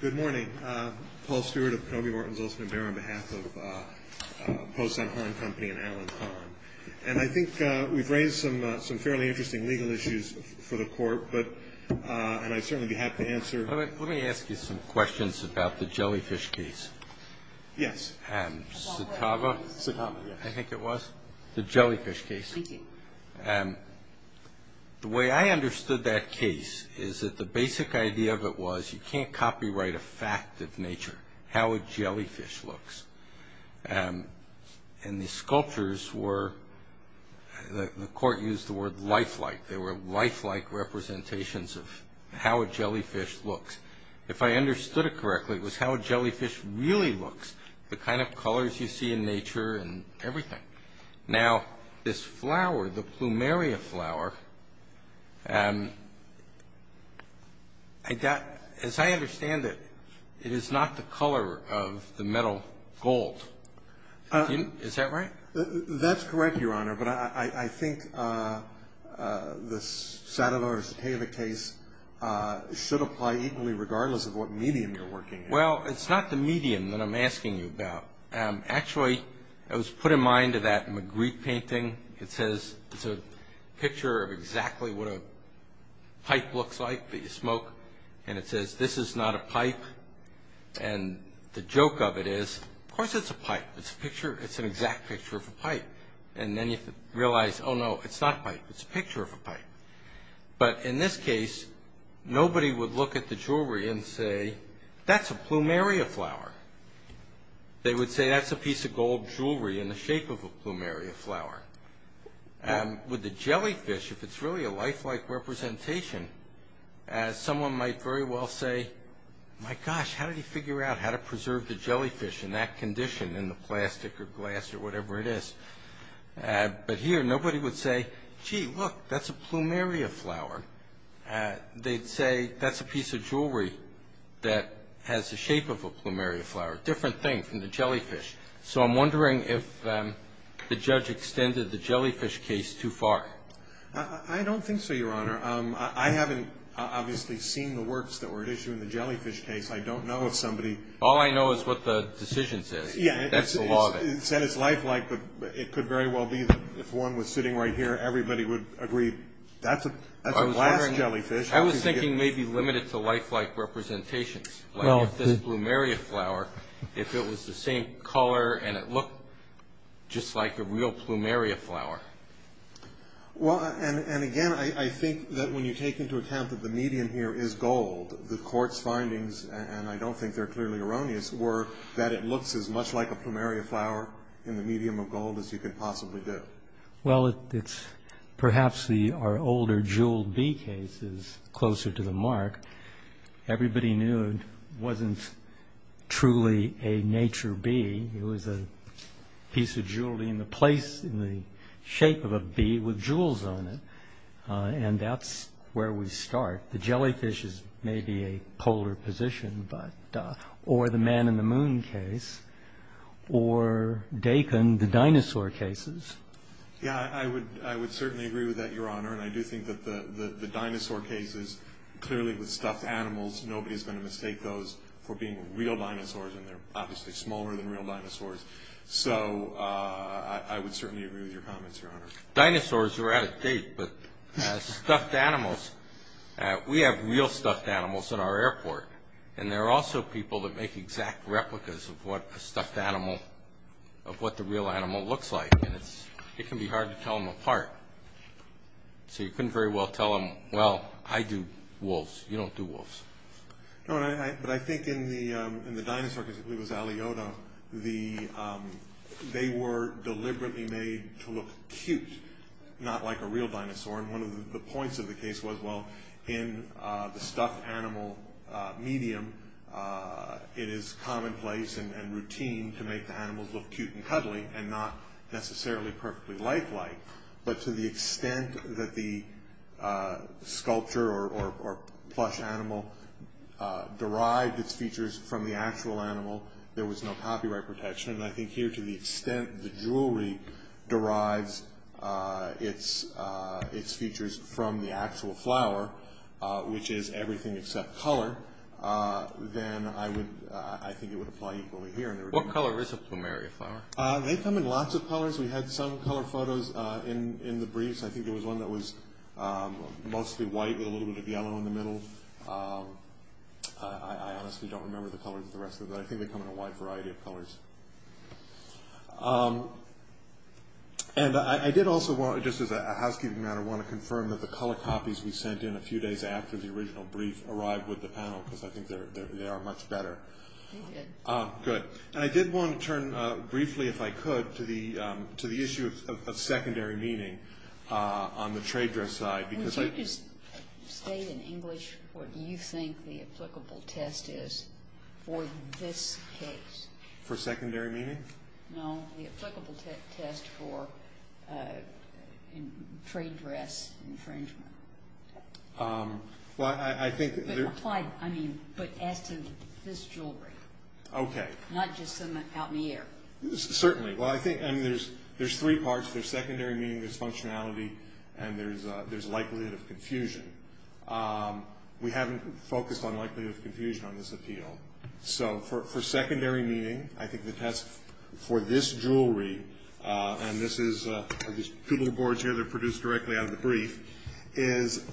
Good morning. Paul Stewart of Kenobe Morton's Oldsman Bear on behalf of Po Sun Hon Company and Allen Kahn. And I think we've raised some fairly interesting legal issues for the Court, and I'd certainly be happy to answer. Let me ask you some questions about the jellyfish case. Yes. Satava? Satava, yes. I think it was. The jellyfish case. Speaking. The way I understood that case is that the basic idea of it was you can't copyright a fact of nature, how a jellyfish looks. And the sculptures were – the Court used the word lifelike. They were lifelike representations of how a jellyfish looks. If I understood it correctly, it was how a jellyfish really looks, the kind of colors you see in nature and everything. Now, this flower, the plumeria flower, as I understand it, it is not the color of the metal gold. Is that right? That's correct, Your Honor, but I think the Satava or Satava case should apply equally regardless of what medium you're working in. Well, it's not the medium that I'm asking you about. Actually, I was put in mind of that Magritte painting. It says – it's a picture of exactly what a pipe looks like that you smoke. And it says, this is not a pipe. And the joke of it is, of course it's a pipe. It's a picture – it's an exact picture of a pipe. And then you realize, oh, no, it's not a pipe. It's a picture of a pipe. But in this case, nobody would look at the jewelry and say, that's a plumeria flower. They would say, that's a piece of gold jewelry in the shape of a plumeria flower. With the jellyfish, if it's really a lifelike representation, someone might very well say, my gosh, how did he figure out how to preserve the jellyfish in that condition in the plastic or glass or whatever it is? But here, nobody would say, gee, look, that's a plumeria flower. They'd say, that's a piece of jewelry that has the shape of a plumeria flower. Different thing from the jellyfish. So I'm wondering if the judge extended the jellyfish case too far. I don't think so, Your Honor. I haven't obviously seen the works that were at issue in the jellyfish case. I don't know if somebody – All I know is what the decision says. Yeah. That's the law of it. It said it's lifelike, but it could very well be that if one was sitting right here, everybody would agree. That's a glass jellyfish. I was thinking maybe limited to lifelike representations, like if this plumeria flower, if it was the same color and it looked just like a real plumeria flower. Well, and again, I think that when you take into account that the medium here is gold, the court's findings, and I don't think they're clearly erroneous, were that it looks as much like a plumeria flower in the medium of gold as you could possibly do. Well, it's – perhaps our older jeweled bee case is closer to the mark. Everybody knew it wasn't truly a nature bee. It was a piece of jewelry in the place, in the shape of a bee with jewels on it, and that's where we start. The jellyfish is maybe a polar position, or the man in the moon case, or Dakin, the dinosaur cases. Yeah, I would certainly agree with that, Your Honor, and I do think that the dinosaur cases, clearly with stuffed animals, nobody's going to mistake those for being real dinosaurs, and they're obviously smaller than real dinosaurs. So I would certainly agree with your comments, Your Honor. Dinosaurs are out of date, but stuffed animals, we have real stuffed animals at our airport, and there are also people that make exact replicas of what a stuffed animal, of what the real animal looks like, and it can be hard to tell them apart. So you couldn't very well tell them, well, I do wolves, you don't do wolves. No, but I think in the dinosaur case, I believe it was Aliota, they were deliberately made to look cute, not like a real dinosaur, and one of the points of the case was, well, in the stuffed animal medium, it is commonplace and routine to make the animals look cute and cuddly, and not necessarily perfectly like-like, but to the extent that the sculpture or plush animal derived its features from the actual animal, there was no copyright protection, and I think here to the extent the jewelry derives its features from the actual flower, which is everything except color, then I think it would apply equally here. What color is a plumeria flower? They come in lots of colors. We had some color photos in the briefs. I think there was one that was mostly white with a little bit of yellow in the middle. I honestly don't remember the colors of the rest of them, but I think they come in a wide variety of colors. And I did also, just as a housekeeping matter, want to confirm that the color copies we sent in a few days after the original brief arrived with the panel, because I think they are much better. They did. Good. And I did want to turn briefly, if I could, to the issue of secondary meaning on the trade dress side. Would you just state in English what you think the applicable test is for this case? For secondary meaning? No, the applicable test for trade dress infringement. But as to this jewelry. Okay. Not just some out in the air. Certainly. There's three parts. There's secondary meaning, there's functionality, and there's likelihood of confusion. We haven't focused on likelihood of confusion on this appeal. So for secondary meaning, I think the test for this jewelry, and this is two little boards here that are produced directly out of the brief, is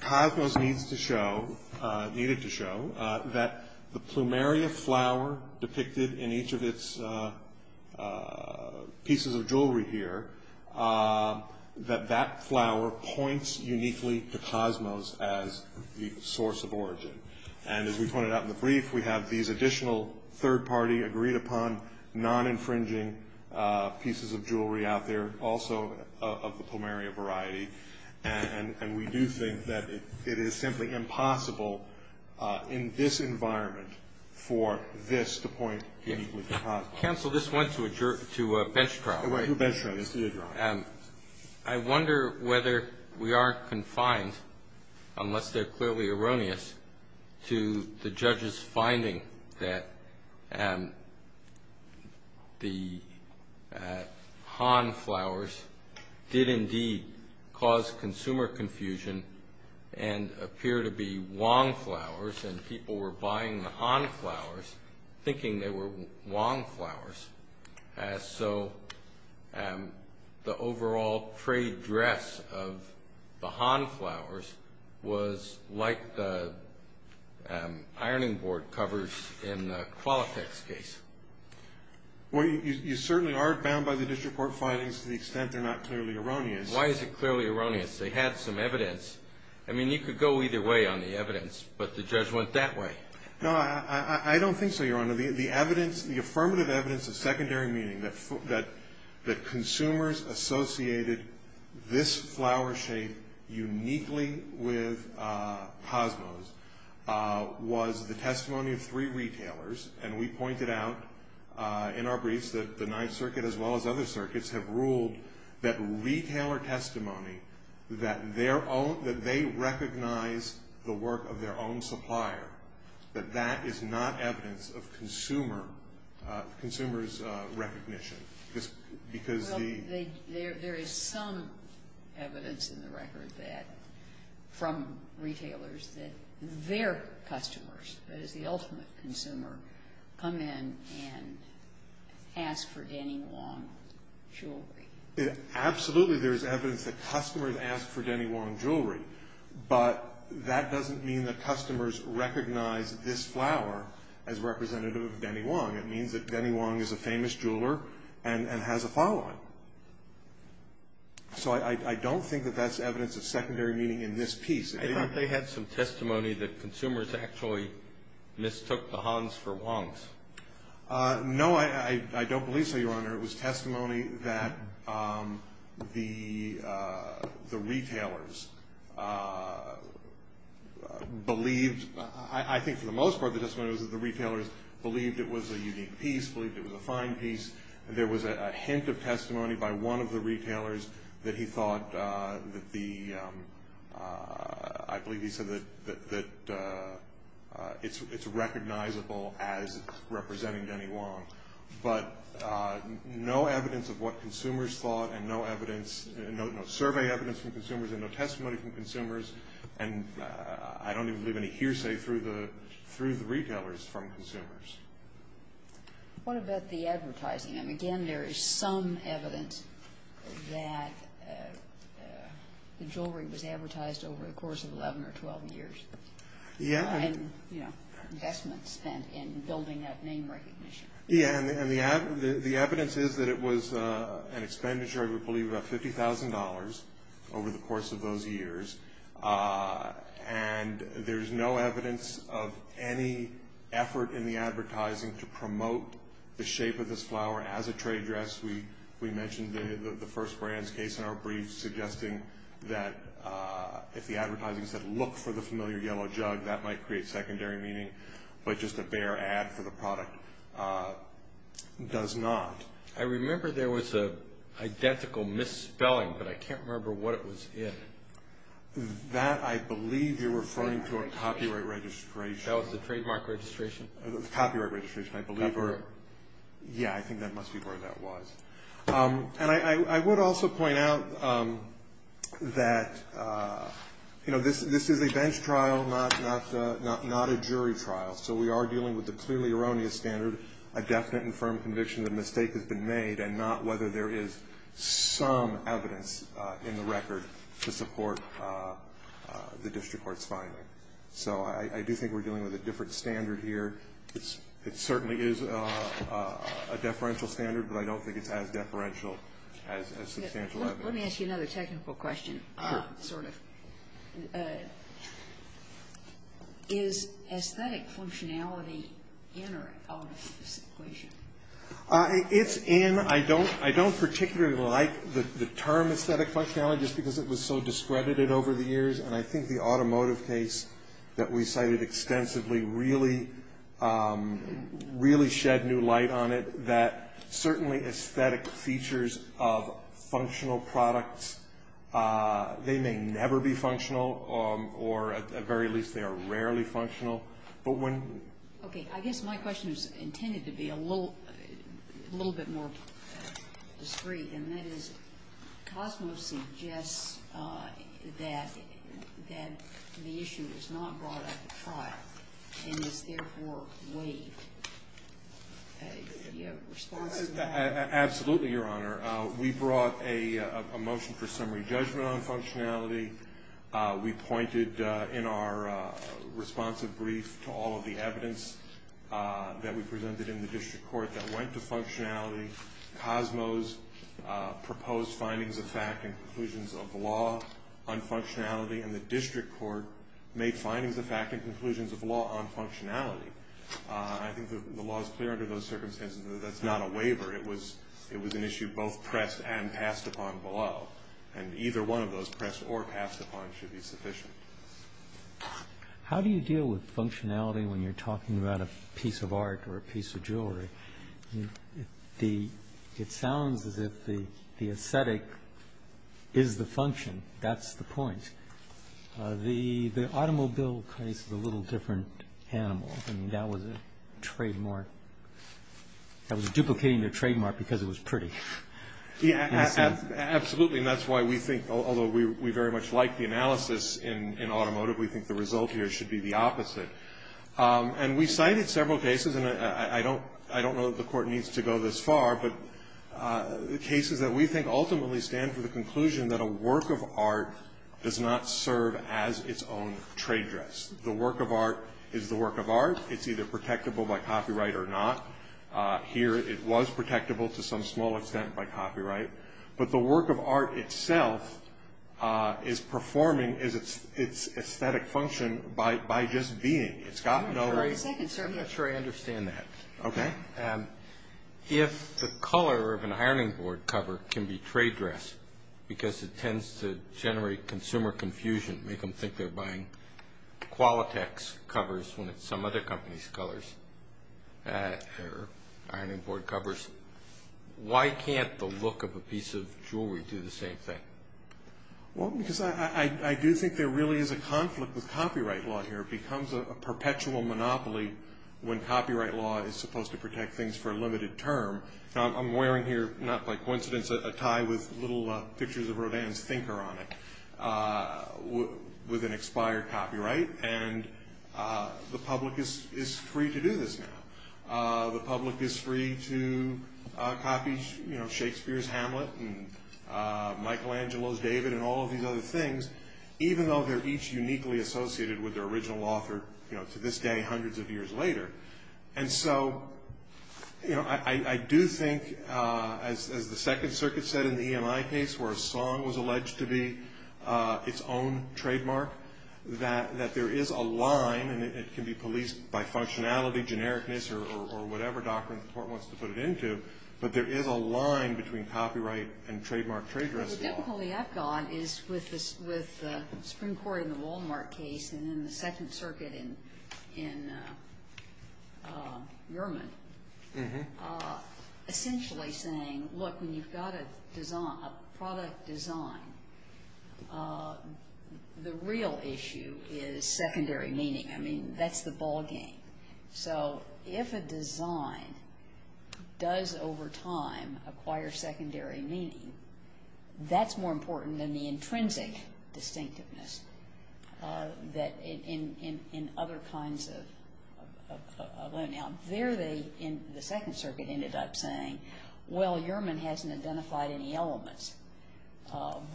Cosmos needed to show that the Plumeria flower depicted in each of its pieces of jewelry here, that that flower points uniquely to Cosmos as the source of origin. And as we pointed out in the brief, we have these additional third-party agreed-upon, non-infringing pieces of jewelry out there, also of the Plumeria variety. And we do think that it is simply impossible in this environment for this to point uniquely to Cosmos. Counsel, this went to a bench trial. It went to a bench trial. This did go to a bench trial. I wonder whether we aren't confined, unless they're clearly erroneous, to the judge's finding that the Han flowers did indeed cause consumer confusion and appear to be Wong flowers, and people were buying the Han flowers thinking they were Wong flowers. So the overall trade dress of the Han flowers was like the ironing board covers in the Qualitex case. Well, you certainly are bound by the district court findings to the extent they're not clearly erroneous. Why is it clearly erroneous? They had some evidence. I mean, you could go either way on the evidence, but the judge went that way. No, I don't think so, Your Honor. The affirmative evidence of secondary meaning, that consumers associated this flower shape uniquely with Cosmos, was the testimony of three retailers. And we pointed out in our briefs that the Ninth Circuit, as well as other circuits, have ruled that retailer testimony, that they recognize the work of their own supplier, that that is not evidence of consumer's recognition. Well, there is some evidence in the record from retailers that their customers, that is the ultimate consumer, come in and ask for Denny Wong jewelry. Absolutely, there is evidence that customers ask for Denny Wong jewelry, but that doesn't mean that customers recognize this flower as representative of Denny Wong. It means that Denny Wong is a famous jeweler and has a following. So I don't think that that's evidence of secondary meaning in this piece. I thought they had some testimony that consumers actually mistook the Hans for Wongs. No, I don't believe so, Your Honor. It was testimony that the retailers believed. I think for the most part the testimony was that the retailers believed it was a unique piece, believed it was a fine piece. There was a hint of testimony by one of the retailers that he thought that the, I believe he said that it's recognizable as representing Denny Wong. But no evidence of what consumers thought and no evidence, no survey evidence from consumers and no testimony from consumers, and I don't even believe any hearsay through the retailers from consumers. What about the advertising? I mean, again, there is some evidence that the jewelry was advertised over the course of 11 or 12 years. Yeah. Investments spent in building that name recognition. Yeah, and the evidence is that it was an expenditure, I believe about $50,000 over the course of those years. And there's no evidence of any effort in the advertising to promote the shape of this flower as a trade dress. We mentioned the first brands case in our brief suggesting that if the advertising said, look for the familiar yellow jug, that might create secondary meaning, but just a bare ad for the product does not. I remember there was an identical misspelling, but I can't remember what it was in. That, I believe you're referring to a copyright registration. That was the trademark registration. Copyright registration, I believe. Copyright. Yeah, I think that must be where that was. And I would also point out that, you know, this is a bench trial, not a jury trial. So we are dealing with a clearly erroneous standard, a definite and firm conviction that a mistake has been made, and not whether there is some evidence in the record to support the district court's finding. So I do think we're dealing with a different standard here. It certainly is a deferential standard, but I don't think it's as deferential as substantial evidence. Let me ask you another technical question, sort of. Is aesthetic functionality in or out of this equation? It's in. I don't particularly like the term aesthetic functionality just because it was so discredited over the years, and I think the automotive case that we cited extensively really shed new light on it, that certainly aesthetic features of functional products, they may never be functional, or at the very least they are rarely functional. Okay. I guess my question is intended to be a little bit more discreet, and that is COSMOS suggests that the issue was not brought up at trial and is therefore waived. Do you have a response to that? Absolutely, Your Honor. We brought a motion for summary judgment on functionality. We pointed in our responsive brief to all of the evidence that we presented in the district court that went to functionality. COSMOS proposed findings of fact and conclusions of law on functionality, and the district court made findings of fact and conclusions of law on functionality. I think the law is clear under those circumstances that that's not a waiver. It was an issue both pressed and passed upon below, and either one of those, pressed or passed upon, should be sufficient. How do you deal with functionality when you're talking about a piece of art or a piece of jewelry? It sounds as if the aesthetic is the function. That's the point. The automobile case is a little different animal. I mean, that was a trademark. That was duplicating the trademark because it was pretty. Absolutely, and that's why we think, although we very much like the analysis in automotive, we think the result here should be the opposite. And we cited several cases, and I don't know that the court needs to go this far, but the cases that we think ultimately stand for the conclusion that a work of art does not serve as its own trade dress. The work of art is the work of art. It's either protectable by copyright or not. Here it was protectable to some small extent by copyright, but the work of art itself is performing its aesthetic function by just being. I'm not sure I understand that. Okay. If the color of an ironing board cover can be trade dress because it tends to generate consumer confusion, make them think they're buying Qualitex covers when it's some other company's colors or ironing board covers, why can't the look of a piece of jewelry do the same thing? Well, because I do think there really is a conflict with copyright law here. It becomes a perpetual monopoly when copyright law is supposed to protect things for a limited term. Now, I'm wearing here, not by coincidence, a tie with little pictures of Rodin's Thinker on it with an expired copyright, and the public is free to do this now. The public is free to copy Shakespeare's Hamlet and Michelangelo's David and all of these other things, even though they're each uniquely associated with their original author to this day hundreds of years later. And so I do think, as the Second Circuit said in the EMI case where a song was alleged to be its own trademark, that there is a line, and it can be policed by functionality, genericness, or whatever doctrine the court wants to put it into, but there is a line between copyright and trademark trade dress law. Well, the difficulty I've got is with the Supreme Court in the Walmart case and in the Second Circuit in Yerman, essentially saying, look, when you've got a product design, the real issue is secondary meaning. I mean, that's the ball game. So if a design does over time acquire secondary meaning, that's more important than the intrinsic distinctiveness that in other kinds of loan. There they, in the Second Circuit, ended up saying, well, Yerman hasn't identified any elements.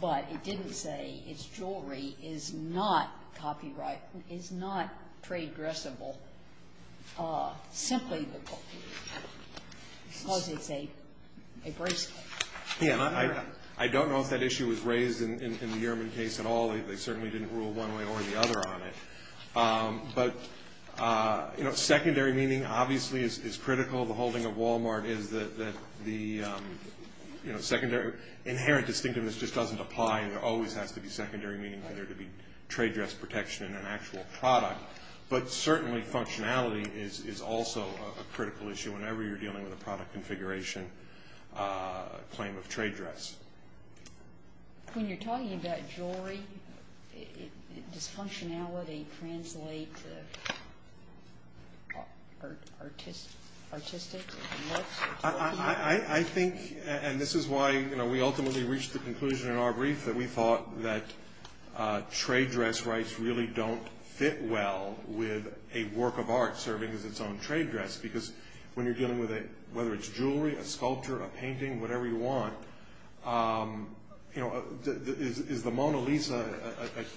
But it didn't say its jewelry is not copyright, is not trade dressable, simply because it's a bracelet. Yeah, and I don't know if that issue was raised in the Yerman case at all. They certainly didn't rule one way or the other on it. But secondary meaning obviously is critical. The holding of Walmart is that the inherent distinctiveness just doesn't apply, and there always has to be secondary meaning for there to be trade dress protection in an actual product. But certainly functionality is also a critical issue whenever you're dealing with a product configuration claim of trade dress. When you're talking about jewelry, does functionality translate to artistic looks? I think, and this is why we ultimately reached the conclusion in our brief, that we thought that trade dress rights really don't fit well with a work of art serving as its own trade dress. Because when you're dealing with it, whether it's jewelry, a sculpture, a painting, whatever you want, is the Mona Lisa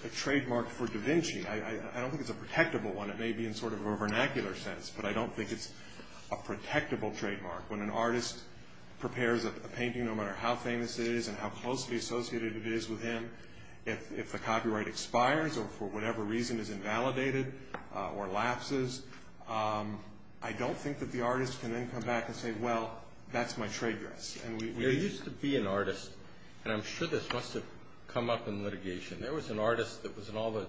a trademark for da Vinci? I don't think it's a protectable one. It may be in sort of a vernacular sense, but I don't think it's a protectable trademark. When an artist prepares a painting, no matter how famous it is and how closely associated it is with him, if the copyright expires or for whatever reason is invalidated or lapses, I don't think that the artist can then come back and say, well, that's my trade dress. There used to be an artist, and I'm sure this must have come up in litigation, there was an artist that was in all the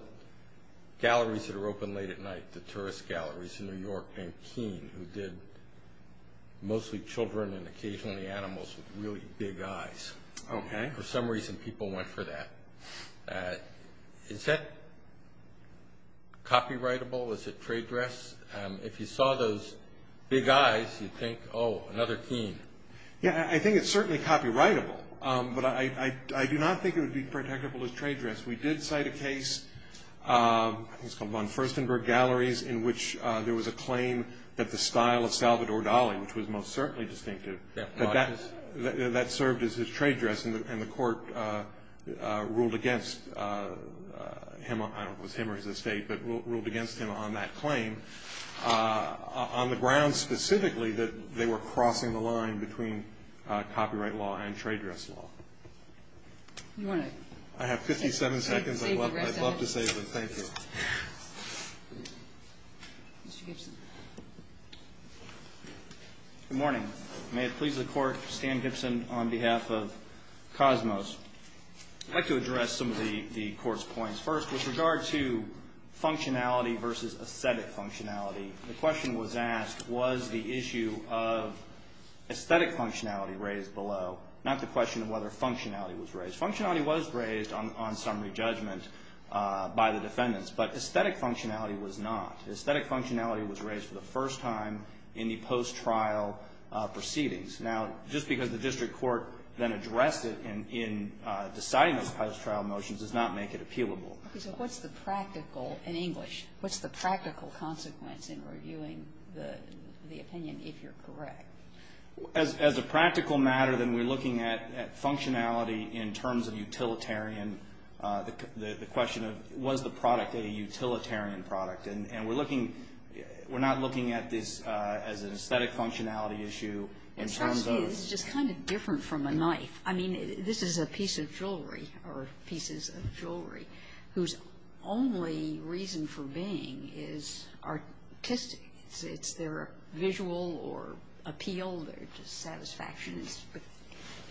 galleries that were open late at night, the tourist galleries in New York named Keene, who did mostly children and occasionally animals with really big eyes. For some reason, people went for that. Is that copyrightable? Is it trade dress? If you saw those big eyes, you'd think, oh, another Keene. Yeah, I think it's certainly copyrightable, but I do not think it would be protectable as trade dress. We did cite a case, I think it was called von Furstenberg Galleries, in which there was a claim that the style of Salvador Dali, which was most certainly distinctive, but that served as his trade dress, and the court ruled against him, I don't know if it was him or his estate, but ruled against him on that claim, on the grounds specifically that they were crossing the line between copyright law and trade dress law. I have 57 seconds. I'd love to save it. Thank you. Mr. Gibson. Good morning. May it please the Court, Stan Gibson on behalf of Cosmos. I'd like to address some of the Court's points. First, with regard to functionality versus aesthetic functionality, the question was asked, was the issue of aesthetic functionality raised below, not the question of whether functionality was raised. Functionality was raised on summary judgment by the defendants, but aesthetic functionality was not. Aesthetic functionality was raised for the first time in the post-trial proceedings. Now, just because the district court then addressed it in deciding those post-trial motions does not make it appealable. So what's the practical, in English, what's the practical consequence in reviewing the opinion, if you're correct? As a practical matter, then we're looking at functionality in terms of utilitarian, the question of was the product a utilitarian product. And we're looking, we're not looking at this as an aesthetic functionality issue in terms of. It's just kind of different from a knife. I mean, this is a piece of jewelry, or pieces of jewelry, whose only reason for being is artistic. It's their visual or appeal, their satisfaction is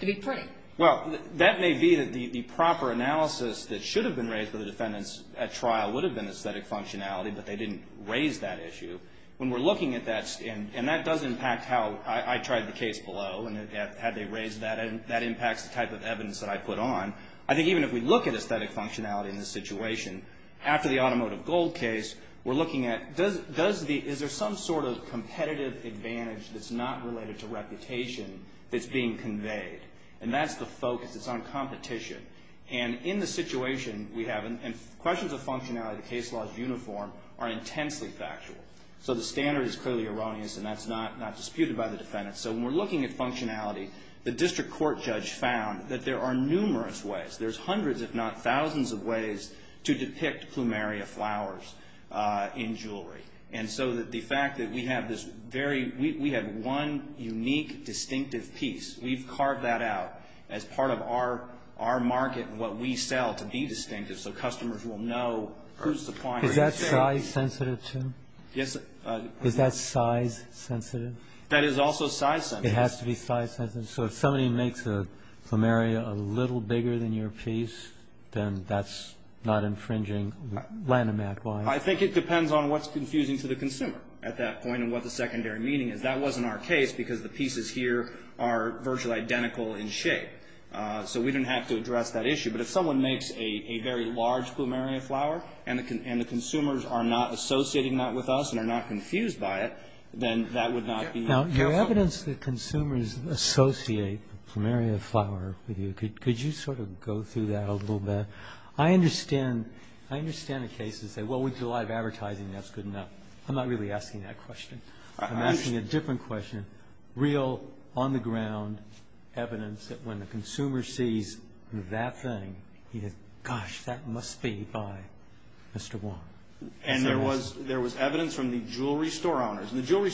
to be pretty. Well, that may be the proper analysis that should have been raised by the defendants at trial would have been aesthetic functionality, but they didn't raise that issue. When we're looking at that, and that does impact how I tried the case below, and had they raised that, that impacts the type of evidence that I put on. I think even if we look at aesthetic functionality in this situation, after the automotive gold case, we're looking at is there some sort of competitive advantage that's not related to reputation that's being conveyed? And that's the focus. It's on competition. And in the situation we have, and questions of functionality, the case law is uniform, are intensely factual. So the standard is clearly erroneous, and that's not disputed by the defendants. So when we're looking at functionality, the district court judge found that there are numerous ways, there's hundreds if not thousands of ways to depict plumeria flowers in jewelry. And so the fact that we have this very, we have one unique distinctive piece, we've carved that out as part of our market and what we sell to be distinctive so customers will know who's supplying it. Is that size sensitive too? Yes. Is that size sensitive? That is also size sensitive. It has to be size sensitive? So if somebody makes a plumeria a little bigger than your piece, then that's not infringing Lanham Act law? I think it depends on what's confusing to the consumer at that point and what the secondary meaning is. That wasn't our case because the pieces here are virtually identical in shape. So we didn't have to address that issue. But if someone makes a very large plumeria flower, and the consumers are not associating that with us and are not confused by it, then that would not be useful. Now, your evidence that consumers associate plumeria flower with you, could you sort of go through that a little bit? I understand the case and say, well, we do a lot of advertising and that's good enough. I'm not really asking that question. I'm asking a different question, real, on-the-ground evidence that when the consumer sees that thing, he goes, gosh, that must be by Mr. Wong. And there was evidence from the jewelry store owners. And the jewelry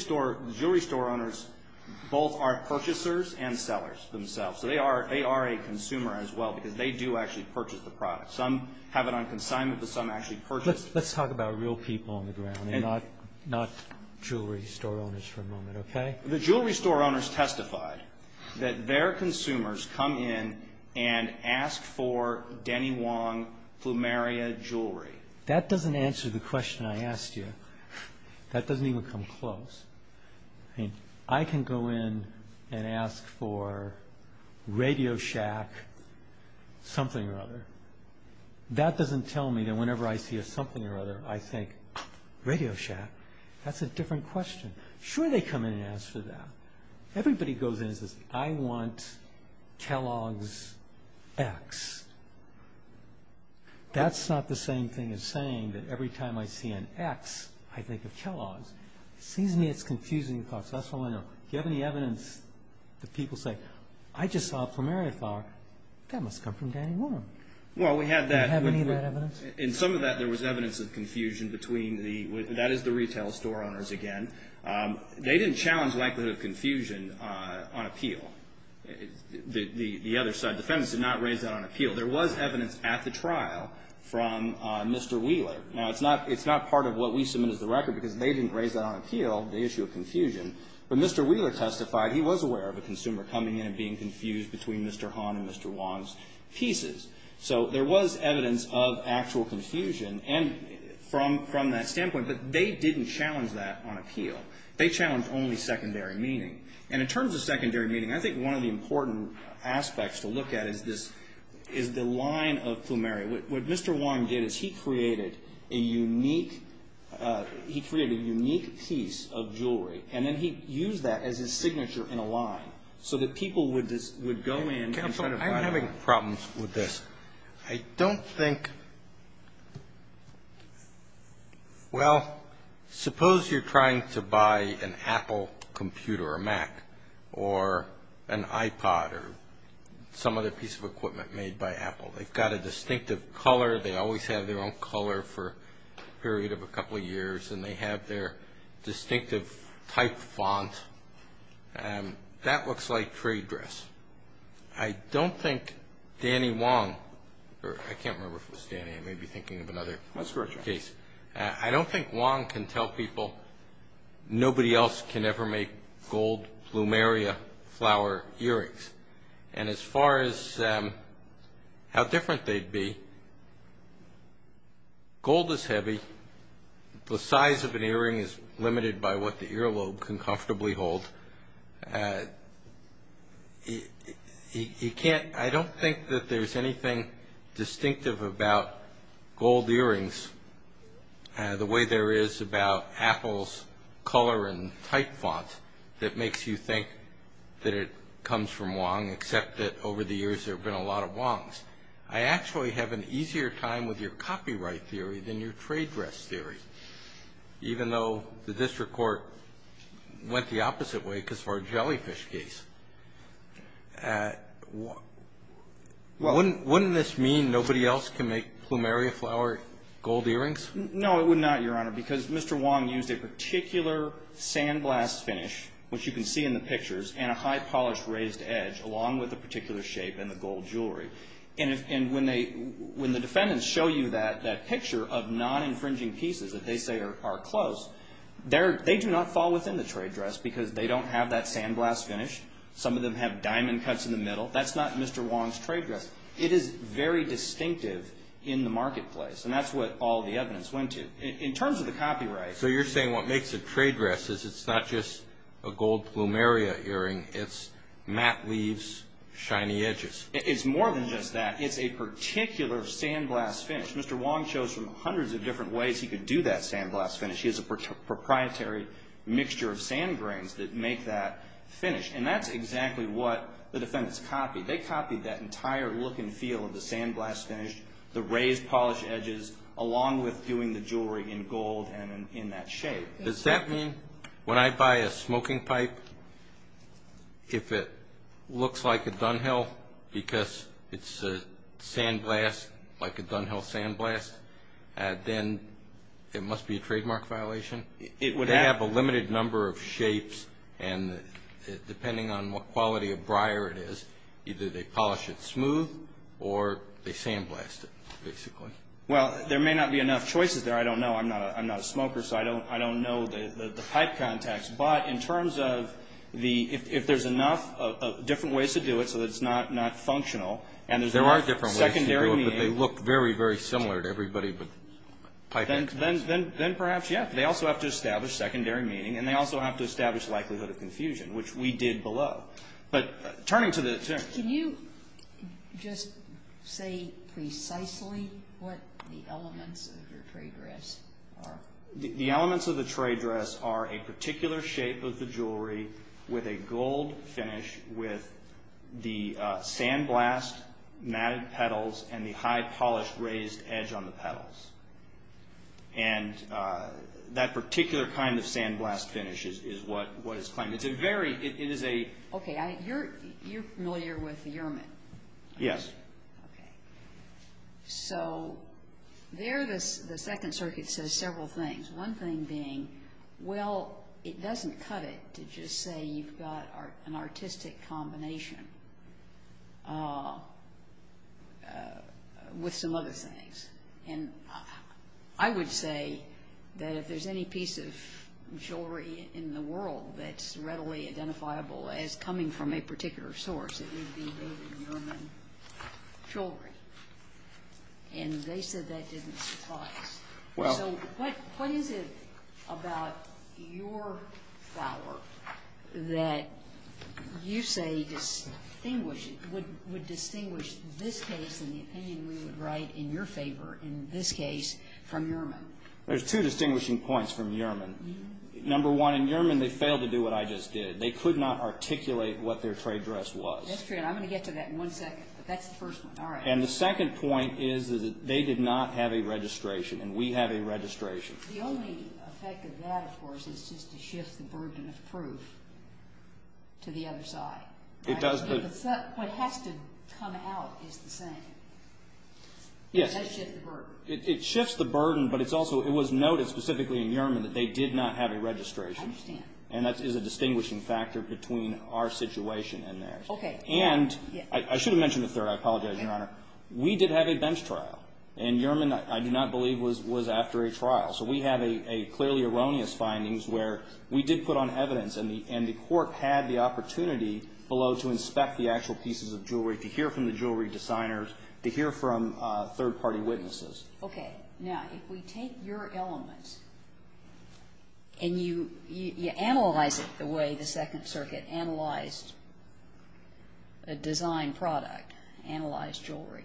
store owners both are purchasers and sellers themselves. So they are a consumer as well because they do actually purchase the product. Some have it on consignment, but some actually purchase it. Let's talk about real people on the ground and not jewelry store owners for a moment, okay? The jewelry store owners testified that their consumers come in and ask for Denny Wong plumeria jewelry. That doesn't answer the question I asked you. That doesn't even come close. I mean, I can go in and ask for Radio Shack something or other. That doesn't tell me that whenever I see a something or other, I think, Radio Shack? That's a different question. Sure they come in and ask for that. Everybody goes in and says, I want Kellogg's X. That's not the same thing as saying that every time I see an X, I think of Kellogg's. It seems to me it's confusing because that's all I know. Do you have any evidence that people say, I just saw a plumeria flower. That must come from Denny Wong. Well, we have that. Do you have any of that evidence? In some of that, there was evidence of confusion between the ñ that is the retail store owners again. They didn't challenge the likelihood of confusion on appeal. The other side defendants did not raise that on appeal. There was evidence at the trial from Mr. Wheeler. Now, it's not part of what we submit as the record because they didn't raise that on appeal, the issue of confusion. But Mr. Wheeler testified he was aware of a consumer coming in and being confused between Mr. Hahn and Mr. Wong's pieces. So there was evidence of actual confusion from that standpoint, but they didn't challenge that on appeal. They challenged only secondary meaning. And in terms of secondary meaning, I think one of the important aspects to look at is this ñ is the line of plumeria. What Mr. Wong did is he created a unique ñ he created a unique piece of jewelry, and then he used that as his signature in a line so that people would just ñ would go in. Counsel, I'm having problems with this. I don't think ñ well, suppose you're trying to buy an Apple computer or Mac or an iPod or some other piece of equipment made by Apple. They've got a distinctive color. They always have their own color for a period of a couple of years, and they have their distinctive type font. That looks like trade dress. I don't think Danny Wong ñ or I can't remember if it was Danny. I may be thinking of another case. I don't think Wong can tell people nobody else can ever make gold plumeria flower earrings. And as far as how different they'd be, gold is heavy. The size of an earring is limited by what the earlobe can comfortably hold. You can't ñ I don't think that there's anything distinctive about gold earrings the way there is about Apple's color and type font that makes you think that it comes from Wong, except that over the years there have been a lot of Wongs. I actually have an easier time with your copyright theory than your trade dress theory, even though the district court went the opposite way because of our jellyfish case. Wouldn't this mean nobody else can make plumeria flower gold earrings? No, it would not, Your Honor, because Mr. Wong used a particular sandblast finish, which you can see in the pictures, and a high-polished raised edge, along with a particular shape and the gold jewelry. And when the defendants show you that picture of non-infringing pieces that they say are close, they do not fall within the trade dress because they don't have that sandblast finish. Some of them have diamond cuts in the middle. That's not Mr. Wong's trade dress. It is very distinctive in the marketplace, and that's what all the evidence went to. In terms of the copyright ñ So you're saying what makes a trade dress is it's not just a gold plumeria earring. It's matte leaves, shiny edges. It's more than just that. It's a particular sandblast finish. Mr. Wong chose from hundreds of different ways he could do that sandblast finish. He has a proprietary mixture of sand grains that make that finish, and that's exactly what the defendants copied. They copied that entire look and feel of the sandblast finish, the raised polished edges, along with doing the jewelry in gold and in that shape. Does that mean when I buy a smoking pipe, if it looks like a Dunhill because it's a sandblast, like a Dunhill sandblast, then it must be a trademark violation? They have a limited number of shapes, and depending on what quality of briar it is, either they polish it smooth or they sandblast it, basically. Well, there may not be enough choices there. I don't know. I'm not a smoker, so I don't know the pipe context. But in terms of if there's enough different ways to do it so that it's not functional and there's enough secondary meaning. There are different ways to do it, but they look very, very similar to everybody, but piping. Then perhaps, yes. They also have to establish secondary meaning, and they also have to establish the likelihood of confusion, which we did below. Can you just say precisely what the elements of your trade dress are? The elements of the trade dress are a particular shape of the jewelry with a gold finish with the sandblast matted petals and the high polished raised edge on the petals. And that particular kind of sandblast finish is what is claimed. Okay. You're familiar with the Yermak. Yes. Okay. So there the Second Circuit says several things, one thing being, well, it doesn't cut it to just say you've got an artistic combination with some other things. And I would say that if there's any piece of jewelry in the world that's readily identifiable as coming from a particular source, it would be David Yerman jewelry. And they said that didn't suffice. So what is it about your flower that you say would distinguish this case and the opinion we would write in your favor in this case from Yerman? There's two distinguishing points from Yerman. Number one, in Yerman they failed to do what I just did. They could not articulate what their trade dress was. That's true, and I'm going to get to that in one second, but that's the first one. All right. And the second point is that they did not have a registration, and we have a registration. The only effect of that, of course, is just to shift the burden of proof to the other side. What has to come out is the same. It does shift the burden. It shifts the burden, but it was noted specifically in Yerman that they did not have a registration. I understand. And that is a distinguishing factor between our situation and theirs. Okay. And I should have mentioned a third. I apologize, Your Honor. We did have a bench trial, and Yerman I do not believe was after a trial. So we have clearly erroneous findings where we did put on evidence, and the court had the opportunity below to inspect the actual pieces of jewelry, to hear from the jewelry designers, to hear from third-party witnesses. Okay. Now, if we take your elements and you analyze it the way the Second Circuit analyzed a design product, analyzed jewelry,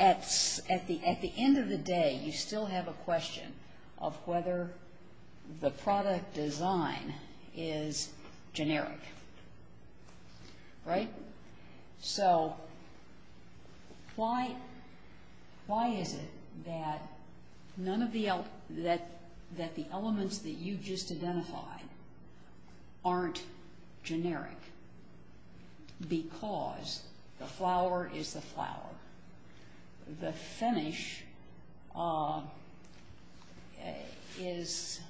at the end of the day, you still have a question of whether the product design is generic. Right? So why is it that the elements that you just identified aren't generic? Because the flower is the flower. The finish is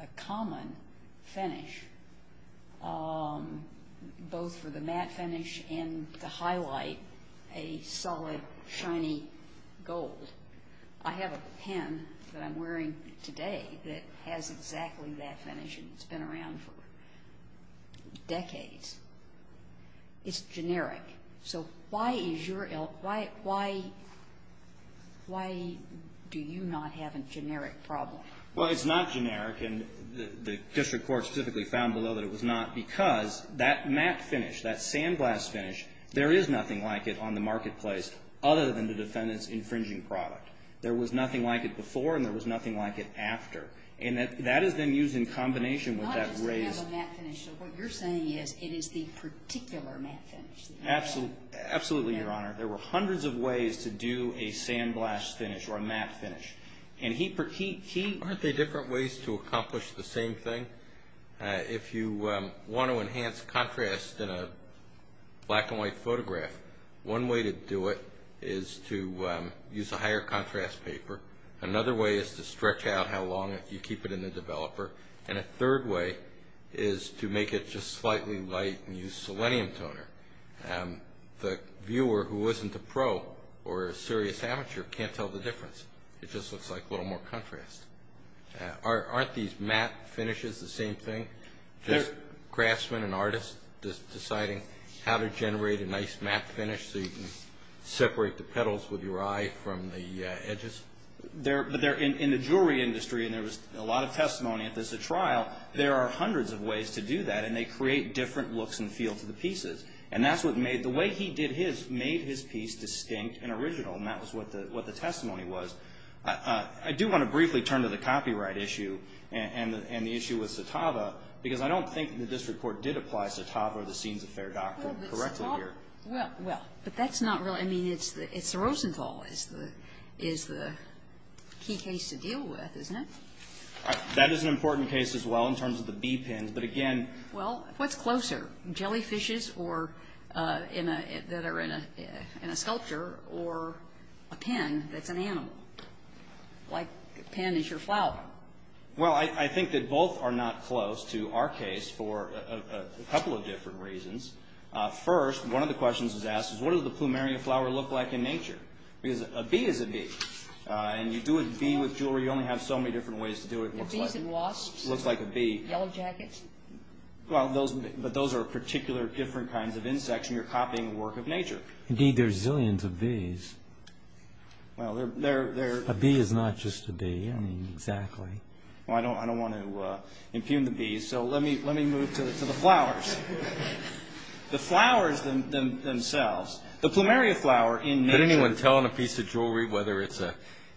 a common finish, both for the matte finish and the highlight, a solid, shiny gold. I have a pen that I'm wearing today that has exactly that finish, and it's been around for decades. It's generic. So why do you not have a generic problem? Well, it's not generic, and the district court specifically found below that it was not because that matte finish, that sandglass finish, there is nothing like it on the marketplace other than the defendant's infringing product. There was nothing like it before, and there was nothing like it after. And that is then used in combination with that raised… Not just to have a matte finish. So what you're saying is it is the particular matte finish. Absolutely, Your Honor. There were hundreds of ways to do a sandglass finish or a matte finish, and he… Aren't there different ways to accomplish the same thing? If you want to enhance contrast in a black-and-white photograph, one way to do it is to use a higher contrast paper. Another way is to stretch out how long you keep it in the developer. And a third way is to make it just slightly light and use selenium toner. The viewer who isn't a pro or a serious amateur can't tell the difference. It just looks like a little more contrast. Aren't these matte finishes the same thing, just craftsmen and artists deciding how to generate a nice matte finish so you can separate the petals with your eye from the edges? But in the jewelry industry, and there was a lot of testimony of this at trial, there are hundreds of ways to do that, and they create different looks and feel to the pieces. And that's what made… The way he did his made his piece distinct and original, and that was what the testimony was. I do want to briefly turn to the copyright issue and the issue with Satava, because I don't think the district court did apply Satava or the Scenes of Fair Doctrine correctly here. Well, but that's not really – I mean, it's Rosenthal is the key case to deal with, isn't it? That is an important case as well in terms of the bee pens, but again… Well, what's closer, jellyfishes that are in a sculpture or a pen that's an animal, like a pen is your flower? Well, I think that both are not close to our case for a couple of different reasons. First, one of the questions was asked is, what does the plumeria flower look like in nature? Because a bee is a bee, and you do a bee with jewelry, you only have so many different ways to do it. Bees and wasps? It looks like a bee. Yellow jackets? Well, but those are particular different kinds of insects, and you're copying the work of nature. Indeed, there are zillions of bees. Well, they're… A bee is not just a bee. I mean, exactly. Well, I don't want to impugn the bees, so let me move to the flowers. The flowers themselves, the plumeria flower in nature… Could anyone tell on a piece of jewelry whether it's a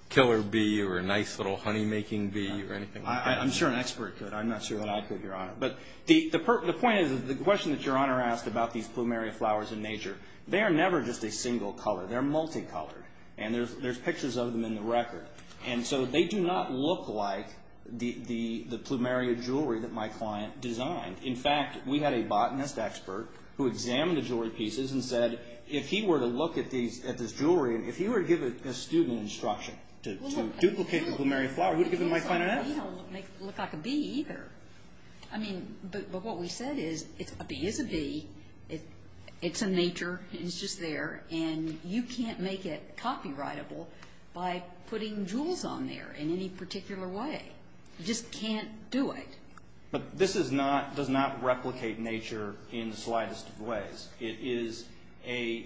killer bee or a nice little honey-making bee or anything like that? I'm sure an expert could. I'm not sure that I could, Your Honor. But the point is, the question that Your Honor asked about these plumeria flowers in nature, they are never just a single color. They're multicolored, and there's pictures of them in the record. And so they do not look like the plumeria jewelry that my client designed. In fact, we had a botanist expert who examined the jewelry pieces and said, if he were to look at this jewelry and if he were to give a student instruction to duplicate the plumeria flower, who would give him my kind of advice? It doesn't look like a bee either. I mean, but what we said is, a bee is a bee. It's in nature. It's just there. And you can't make it copyrightable by putting jewels on there in any particular way. You just can't do it. But this does not replicate nature in the slightest of ways. It is a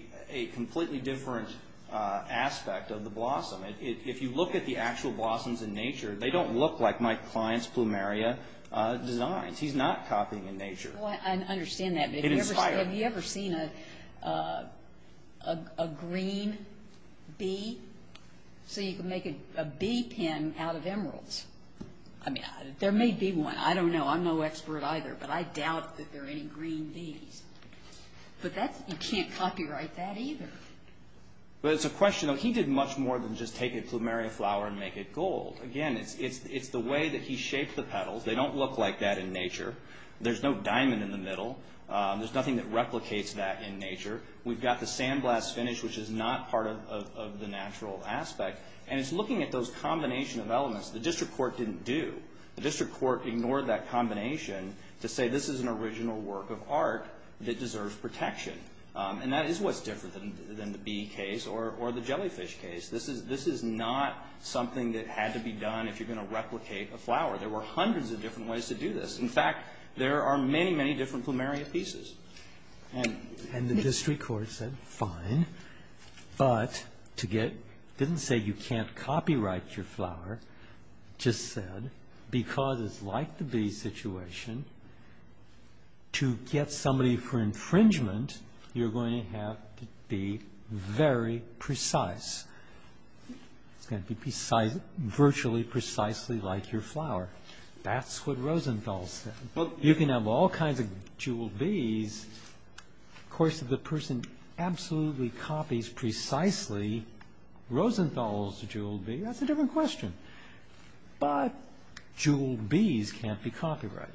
completely different aspect of the blossom. If you look at the actual blossoms in nature, they don't look like my client's plumeria designs. He's not copying in nature. Well, I understand that. It inspires. Have you ever seen a green bee? So you can make a bee pen out of emeralds. There may be one. I don't know. I'm no expert either. But I doubt that there are any green bees. But you can't copyright that either. But it's a question. He did much more than just take a plumeria flower and make it gold. Again, it's the way that he shaped the petals. They don't look like that in nature. There's no diamond in the middle. There's nothing that replicates that in nature. We've got the sandblast finish, which is not part of the natural aspect. And it's looking at those combination of elements the district court didn't do. The district court ignored that combination to say this is an original work of art that deserves protection. And that is what's different than the bee case or the jellyfish case. This is not something that had to be done if you're going to replicate a flower. There were hundreds of different ways to do this. In fact, there are many, many different plumeria pieces. And the district court said fine. But it didn't say you can't copyright your flower. It just said because it's like the bee situation, to get somebody for infringement, you're going to have to be very precise. It's going to be virtually precisely like your flower. That's what Rosenthal said. You can have all kinds of jeweled bees. Of course, if the person absolutely copies precisely Rosenthal's jeweled bee, that's a different question. But jeweled bees can't be copyrighted.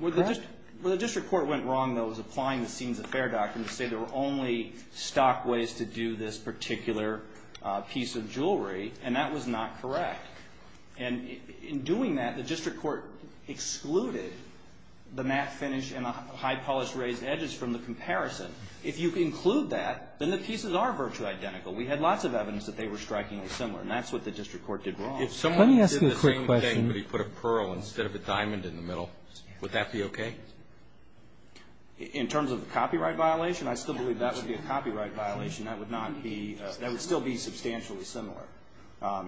Correct? Well, the district court went wrong, though, was applying the scenes of fair doctrine to say there were only stock ways to do this particular piece of jewelry. And that was not correct. And in doing that, the district court excluded the matte finish and the high polished raised edges from the comparison. If you include that, then the pieces are virtually identical. We had lots of evidence that they were strikingly similar. And that's what the district court did wrong. If someone did the same thing but he put a pearl instead of a diamond in the middle, would that be okay? In terms of the copyright violation, I still believe that would be a copyright violation. That would still be substantially similar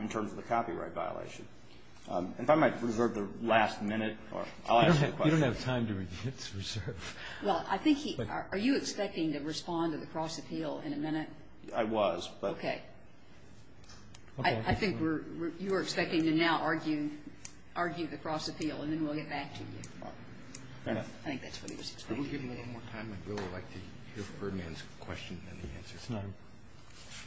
in terms of the copyright violation. If I might reserve the last minute, I'll ask a question. You don't have time to reserve. Well, I think he – are you expecting to respond to the cross appeal in a minute? I was. Okay. I think you are expecting to now argue the cross appeal, and then we'll get back to you. I think that's what he was expecting. Could we give him a little more time? I'd really like to hear Ferdinand's question and the answer. It's not him.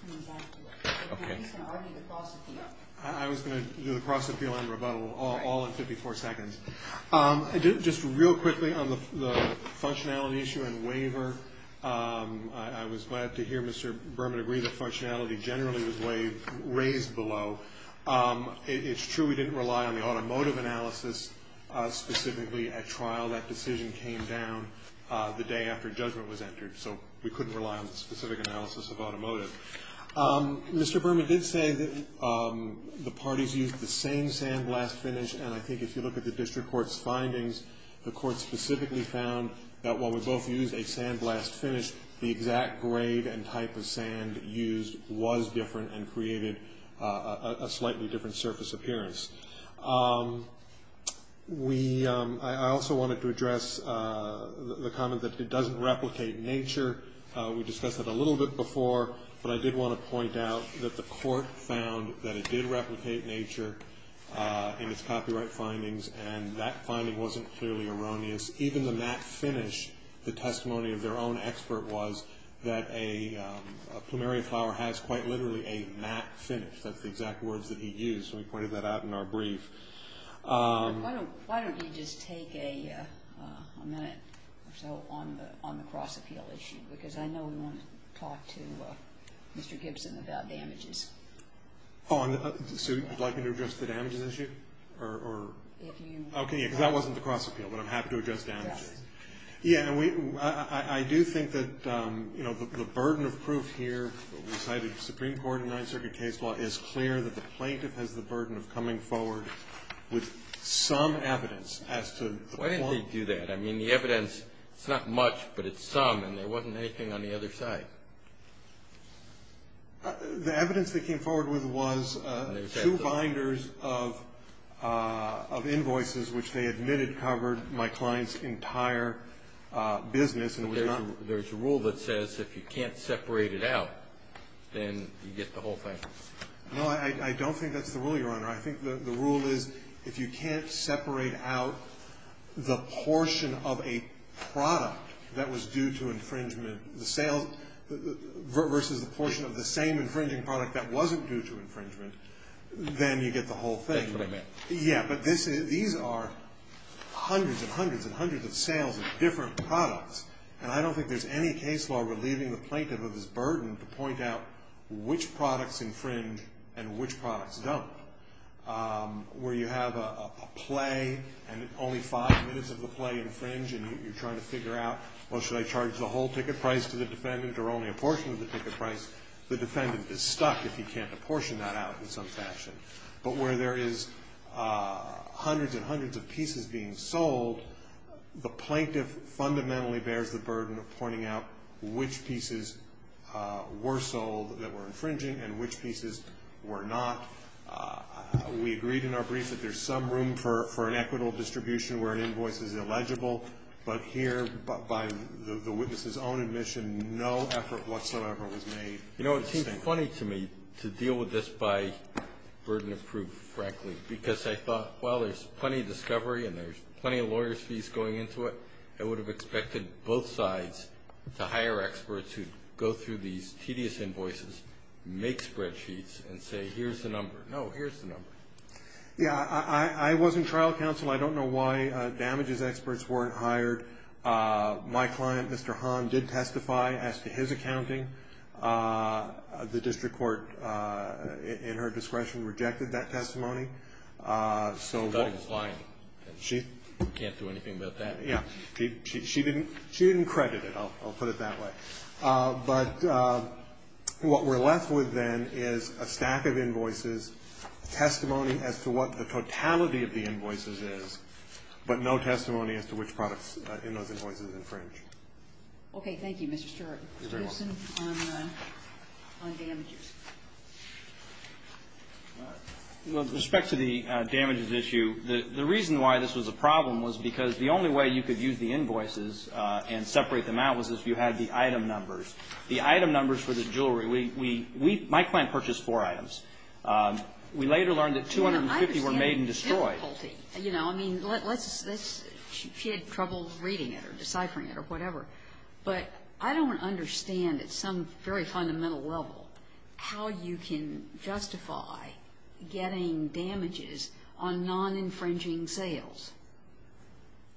He was after it. Okay. He's going to argue the cross appeal. I was going to do the cross appeal and rebuttal all in 54 seconds. Just real quickly on the functionality issue and waiver, I was glad to hear Mr. Berman agree that functionality generally was raised below. It's true we didn't rely on the automotive analysis specifically at trial. That decision came down the day after judgment was entered, so we couldn't rely on the specific analysis of automotive. Mr. Berman did say that the parties used the same sandblast finish, and I think if you look at the district court's findings, the court specifically found that while we both used a sandblast finish, the exact grade and type of sand used was different and created a slightly different surface appearance. I also wanted to address the comment that it doesn't replicate nature. We discussed that a little bit before, but I did want to point out that the court found that it did replicate nature in its copyright findings, and that finding wasn't clearly erroneous. Even the matte finish, the testimony of their own expert was that a plumeria flower has quite literally a matte finish. That's the exact words that he used. We pointed that out in our brief. Why don't you just take a minute or so on the cross-appeal issue, because I know we want to talk to Mr. Gibson about damages. Sue, would you like me to address the damages issue? Okay, because that wasn't the cross-appeal, but I'm happy to address damages. I do think that the burden of proof here, what we cited in the Supreme Court and Ninth Circuit case law, is clear that the plaintiff has the burden of coming forward with some evidence. Why didn't they do that? I mean, the evidence is not much, but it's some, and there wasn't anything on the other side. The evidence they came forward with was two binders of invoices, which they admitted covered my client's entire business. There's a rule that says if you can't separate it out, then you get the whole thing. No, I don't think that's the rule, Your Honor. I think the rule is if you can't separate out the portion of a product that was due to infringement versus the portion of the same infringing product that wasn't due to infringement, then you get the whole thing. That's what I meant. Yeah, but these are hundreds and hundreds and hundreds of sales of different products, and I don't think there's any case law relieving the plaintiff of his burden to point out which products infringe and which products don't. Where you have a play and only five minutes of the play infringe and you're trying to figure out, well, should I charge the whole ticket price to the defendant or only a portion of the ticket price, the defendant is stuck if he can't apportion that out in some fashion. But where there is hundreds and hundreds of pieces being sold, the plaintiff fundamentally bears the burden of pointing out which pieces were sold that were infringing and which pieces were not. We agreed in our brief that there's some room for an equitable distribution where an invoice is illegible, but here, by the witness's own admission, no effort whatsoever was made. You know, it seems funny to me to deal with this by burden of proof, frankly, because I thought, well, there's plenty of discovery and there's plenty of lawyer's fees going into it. I would have expected both sides to hire experts who'd go through these tedious invoices, make spreadsheets, and say, here's the number. No, here's the number. Yeah, I was in trial counsel. I don't know why damages experts weren't hired. My client, Mr. Hahn, did testify as to his accounting. The district court, in her discretion, rejected that testimony. I thought it was lying. She can't do anything about that. Yeah, she didn't credit it, I'll put it that way. But what we're left with then is a stack of invoices, testimony as to what the totality of the invoices is, but no testimony as to which products in those invoices infringe. Okay. Thank you, Mr. Stewart. You're very welcome. Mr. Gibson on damages. With respect to the damages issue, the reason why this was a problem was because the only way you could use the invoices and separate them out was if you had the item numbers. The item numbers for the jewelry, my client purchased four items. We later learned that 250 were made and destroyed. That's a difficulty. You know, I mean, she had trouble reading it or deciphering it or whatever. But I don't understand at some very fundamental level how you can justify getting damages on non-infringing sales.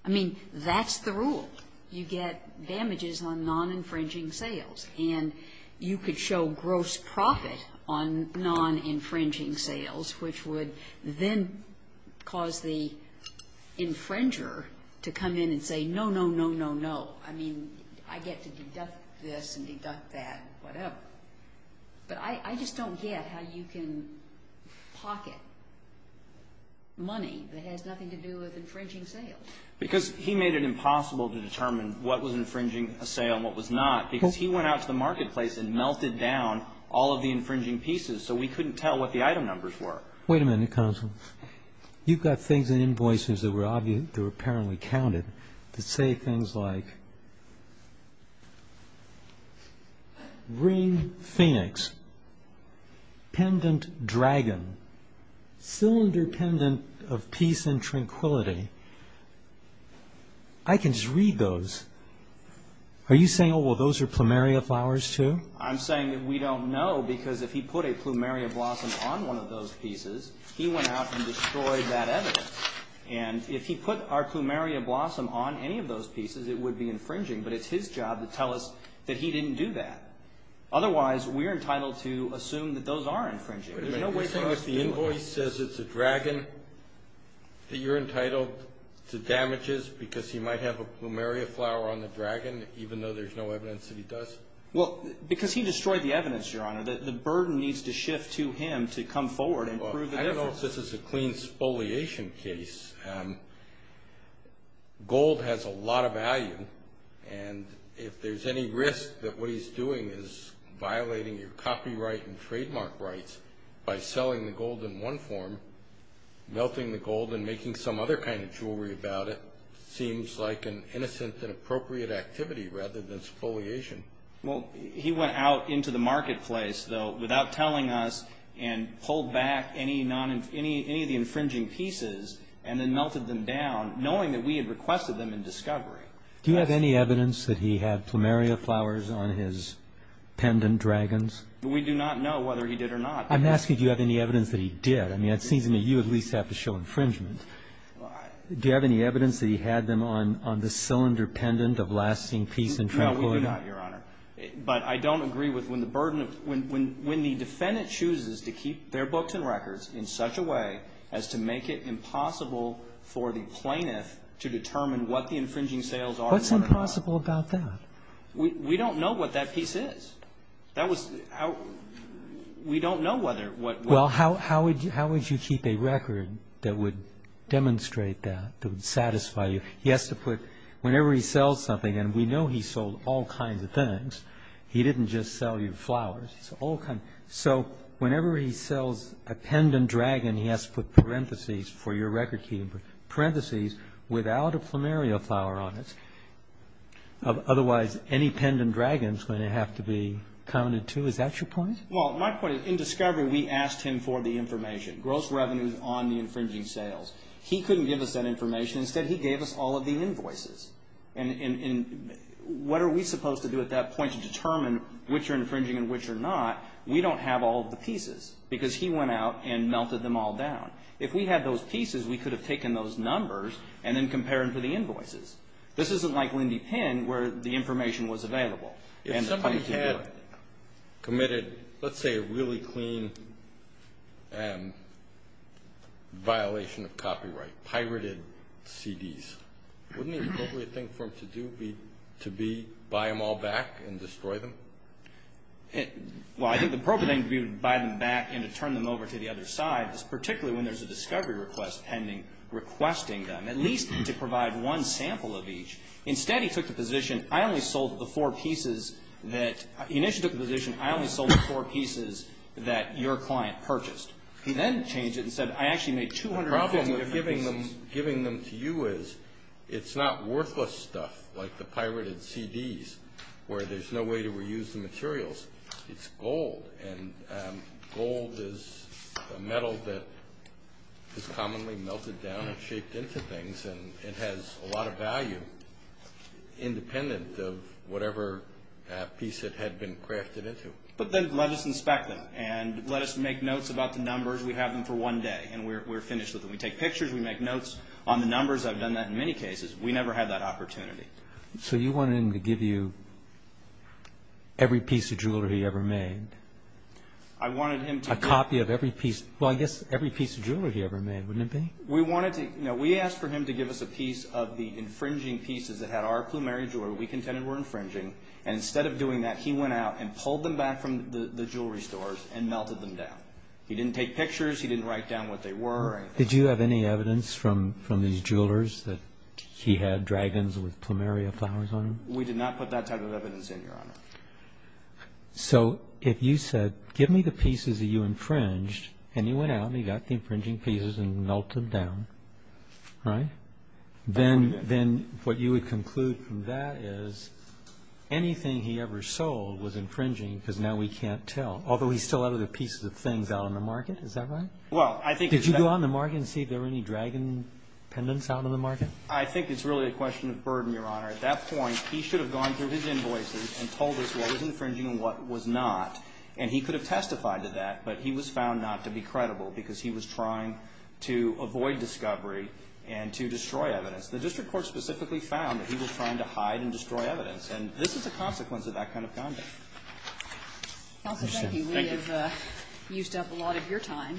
I mean, that's the rule. You get damages on non-infringing sales. And you could show gross profit on non-infringing sales, which would then cause the infringer to come in and say, no, no, no, no, no. I mean, I get to deduct this and deduct that, whatever. But I just don't get how you can pocket money that has nothing to do with infringing sales. Because he made it impossible to determine what was infringing a sale and what was not, because he went out to the marketplace and melted down all of the infringing pieces so we couldn't tell what the item numbers were. Wait a minute, counsel. You've got things in invoices that were apparently counted that say things like ring phoenix, pendant dragon, cylinder pendant of peace and tranquility. I can just read those. Are you saying, oh, well, those are plumeria flowers too? I'm saying that we don't know because if he put a plumeria blossom on one of those pieces, he went out and destroyed that evidence. And if he put our plumeria blossom on any of those pieces, it would be infringing. But it's his job to tell us that he didn't do that. Otherwise, we're entitled to assume that those are infringing. Wait a minute. You're saying if the invoice says it's a dragon that you're entitled to damages because he might have a plumeria flower on the dragon, even though there's no evidence that he does? Well, because he destroyed the evidence, Your Honor. The burden needs to shift to him to come forward and prove the difference. I don't know if this is a clean spoliation case. Gold has a lot of value. And if there's any risk that what he's doing is violating your copyright and trademark rights by selling the gold in one form, melting the gold and making some other kind of jewelry about it, it seems like an innocent and appropriate activity rather than spoliation. Well, he went out into the marketplace, though, without telling us and pulled back any of the infringing pieces and then melted them down knowing that we had requested them in discovery. Do you have any evidence that he had plumeria flowers on his pendant dragons? We do not know whether he did or not. I'm asking if you have any evidence that he did. I mean, it seems to me you at least have to show infringement. Do you have any evidence that he had them on this cylinder pendant of lasting peace and tranquility? No, we do not, Your Honor. But I don't agree with when the burden of the defendant chooses to keep their books and records in such a way as to make it impossible for the plaintiff to determine what the infringing sales are and what are not. What's impossible about that? We don't know what that piece is. That was how we don't know whether what was. Well, how would you keep a record that would demonstrate that, that would satisfy you? He has to put, whenever he sells something, and we know he sold all kinds of things. He didn't just sell you flowers. So whenever he sells a pendant dragon, he has to put parentheses for your record keeping, parentheses without a plumeria flower on it. Otherwise, any pendant dragons are going to have to be counted, too. Is that your point? Well, my point is, in discovery, we asked him for the information, gross revenues on the infringing sales. He couldn't give us that information. Instead, he gave us all of the invoices. And what are we supposed to do at that point to determine which are infringing and which are not? We don't have all of the pieces because he went out and melted them all down. If we had those pieces, we could have taken those numbers and then compared them to the invoices. This isn't like Lindy Penn where the information was available. If somebody had committed, let's say, a really clean violation of copyright, pirated CDs, wouldn't the appropriate thing for them to do be to buy them all back and destroy them? Well, I think the appropriate thing would be to buy them back and to turn them over to the other side, particularly when there's a discovery request pending requesting them, at least to provide one sample of each. Instead, he took the position, I only sold the four pieces that your client purchased. He then changed it and said, I actually made 250 pieces. The problem with giving them to you is it's not worthless stuff like the pirated CDs where there's no way to reuse the materials. It's gold, and gold is a metal that is commonly melted down and shaped into things, and it has a lot of value independent of whatever piece it had been crafted into. But then let us inspect them, and let us make notes about the numbers. We have them for one day, and we're finished with them. We take pictures, we make notes on the numbers. I've done that in many cases. We never had that opportunity. So you wanted him to give you every piece of jewelry he ever made? I wanted him to give me... A copy of every piece. Well, I guess every piece of jewelry he ever made, wouldn't it be? We asked for him to give us a piece of the infringing pieces that had our plumeria jewelry we contended were infringing, and instead of doing that, he went out and pulled them back from the jewelry stores and melted them down. He didn't take pictures. He didn't write down what they were or anything. Did you have any evidence from his jewelers that he had dragons with plumeria flowers on them? We did not put that type of evidence in, Your Honor. So if you said, give me the pieces that you infringed, and he went out and he got the infringing pieces and melted them down, right? Then what you would conclude from that is anything he ever sold was infringing because now we can't tell, although he's still out of the pieces of things out on the market. Is that right? Did you go on the market and see if there were any dragon pendants out on the market? I think it's really a question of burden, Your Honor. At that point, he should have gone through his invoices and told us what was infringing and what was not, and he could have testified to that, but he was found not to be credible because he was trying to avoid discovery and to destroy evidence. The district court specifically found that he was trying to hide and destroy evidence, and this is a consequence of that kind of conduct. Counsel, thank you. We have used up a lot of your time,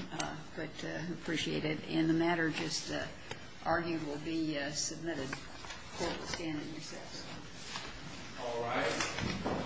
but appreciate it. And the matter just argued will be submitted. The court will stand in recess. All right.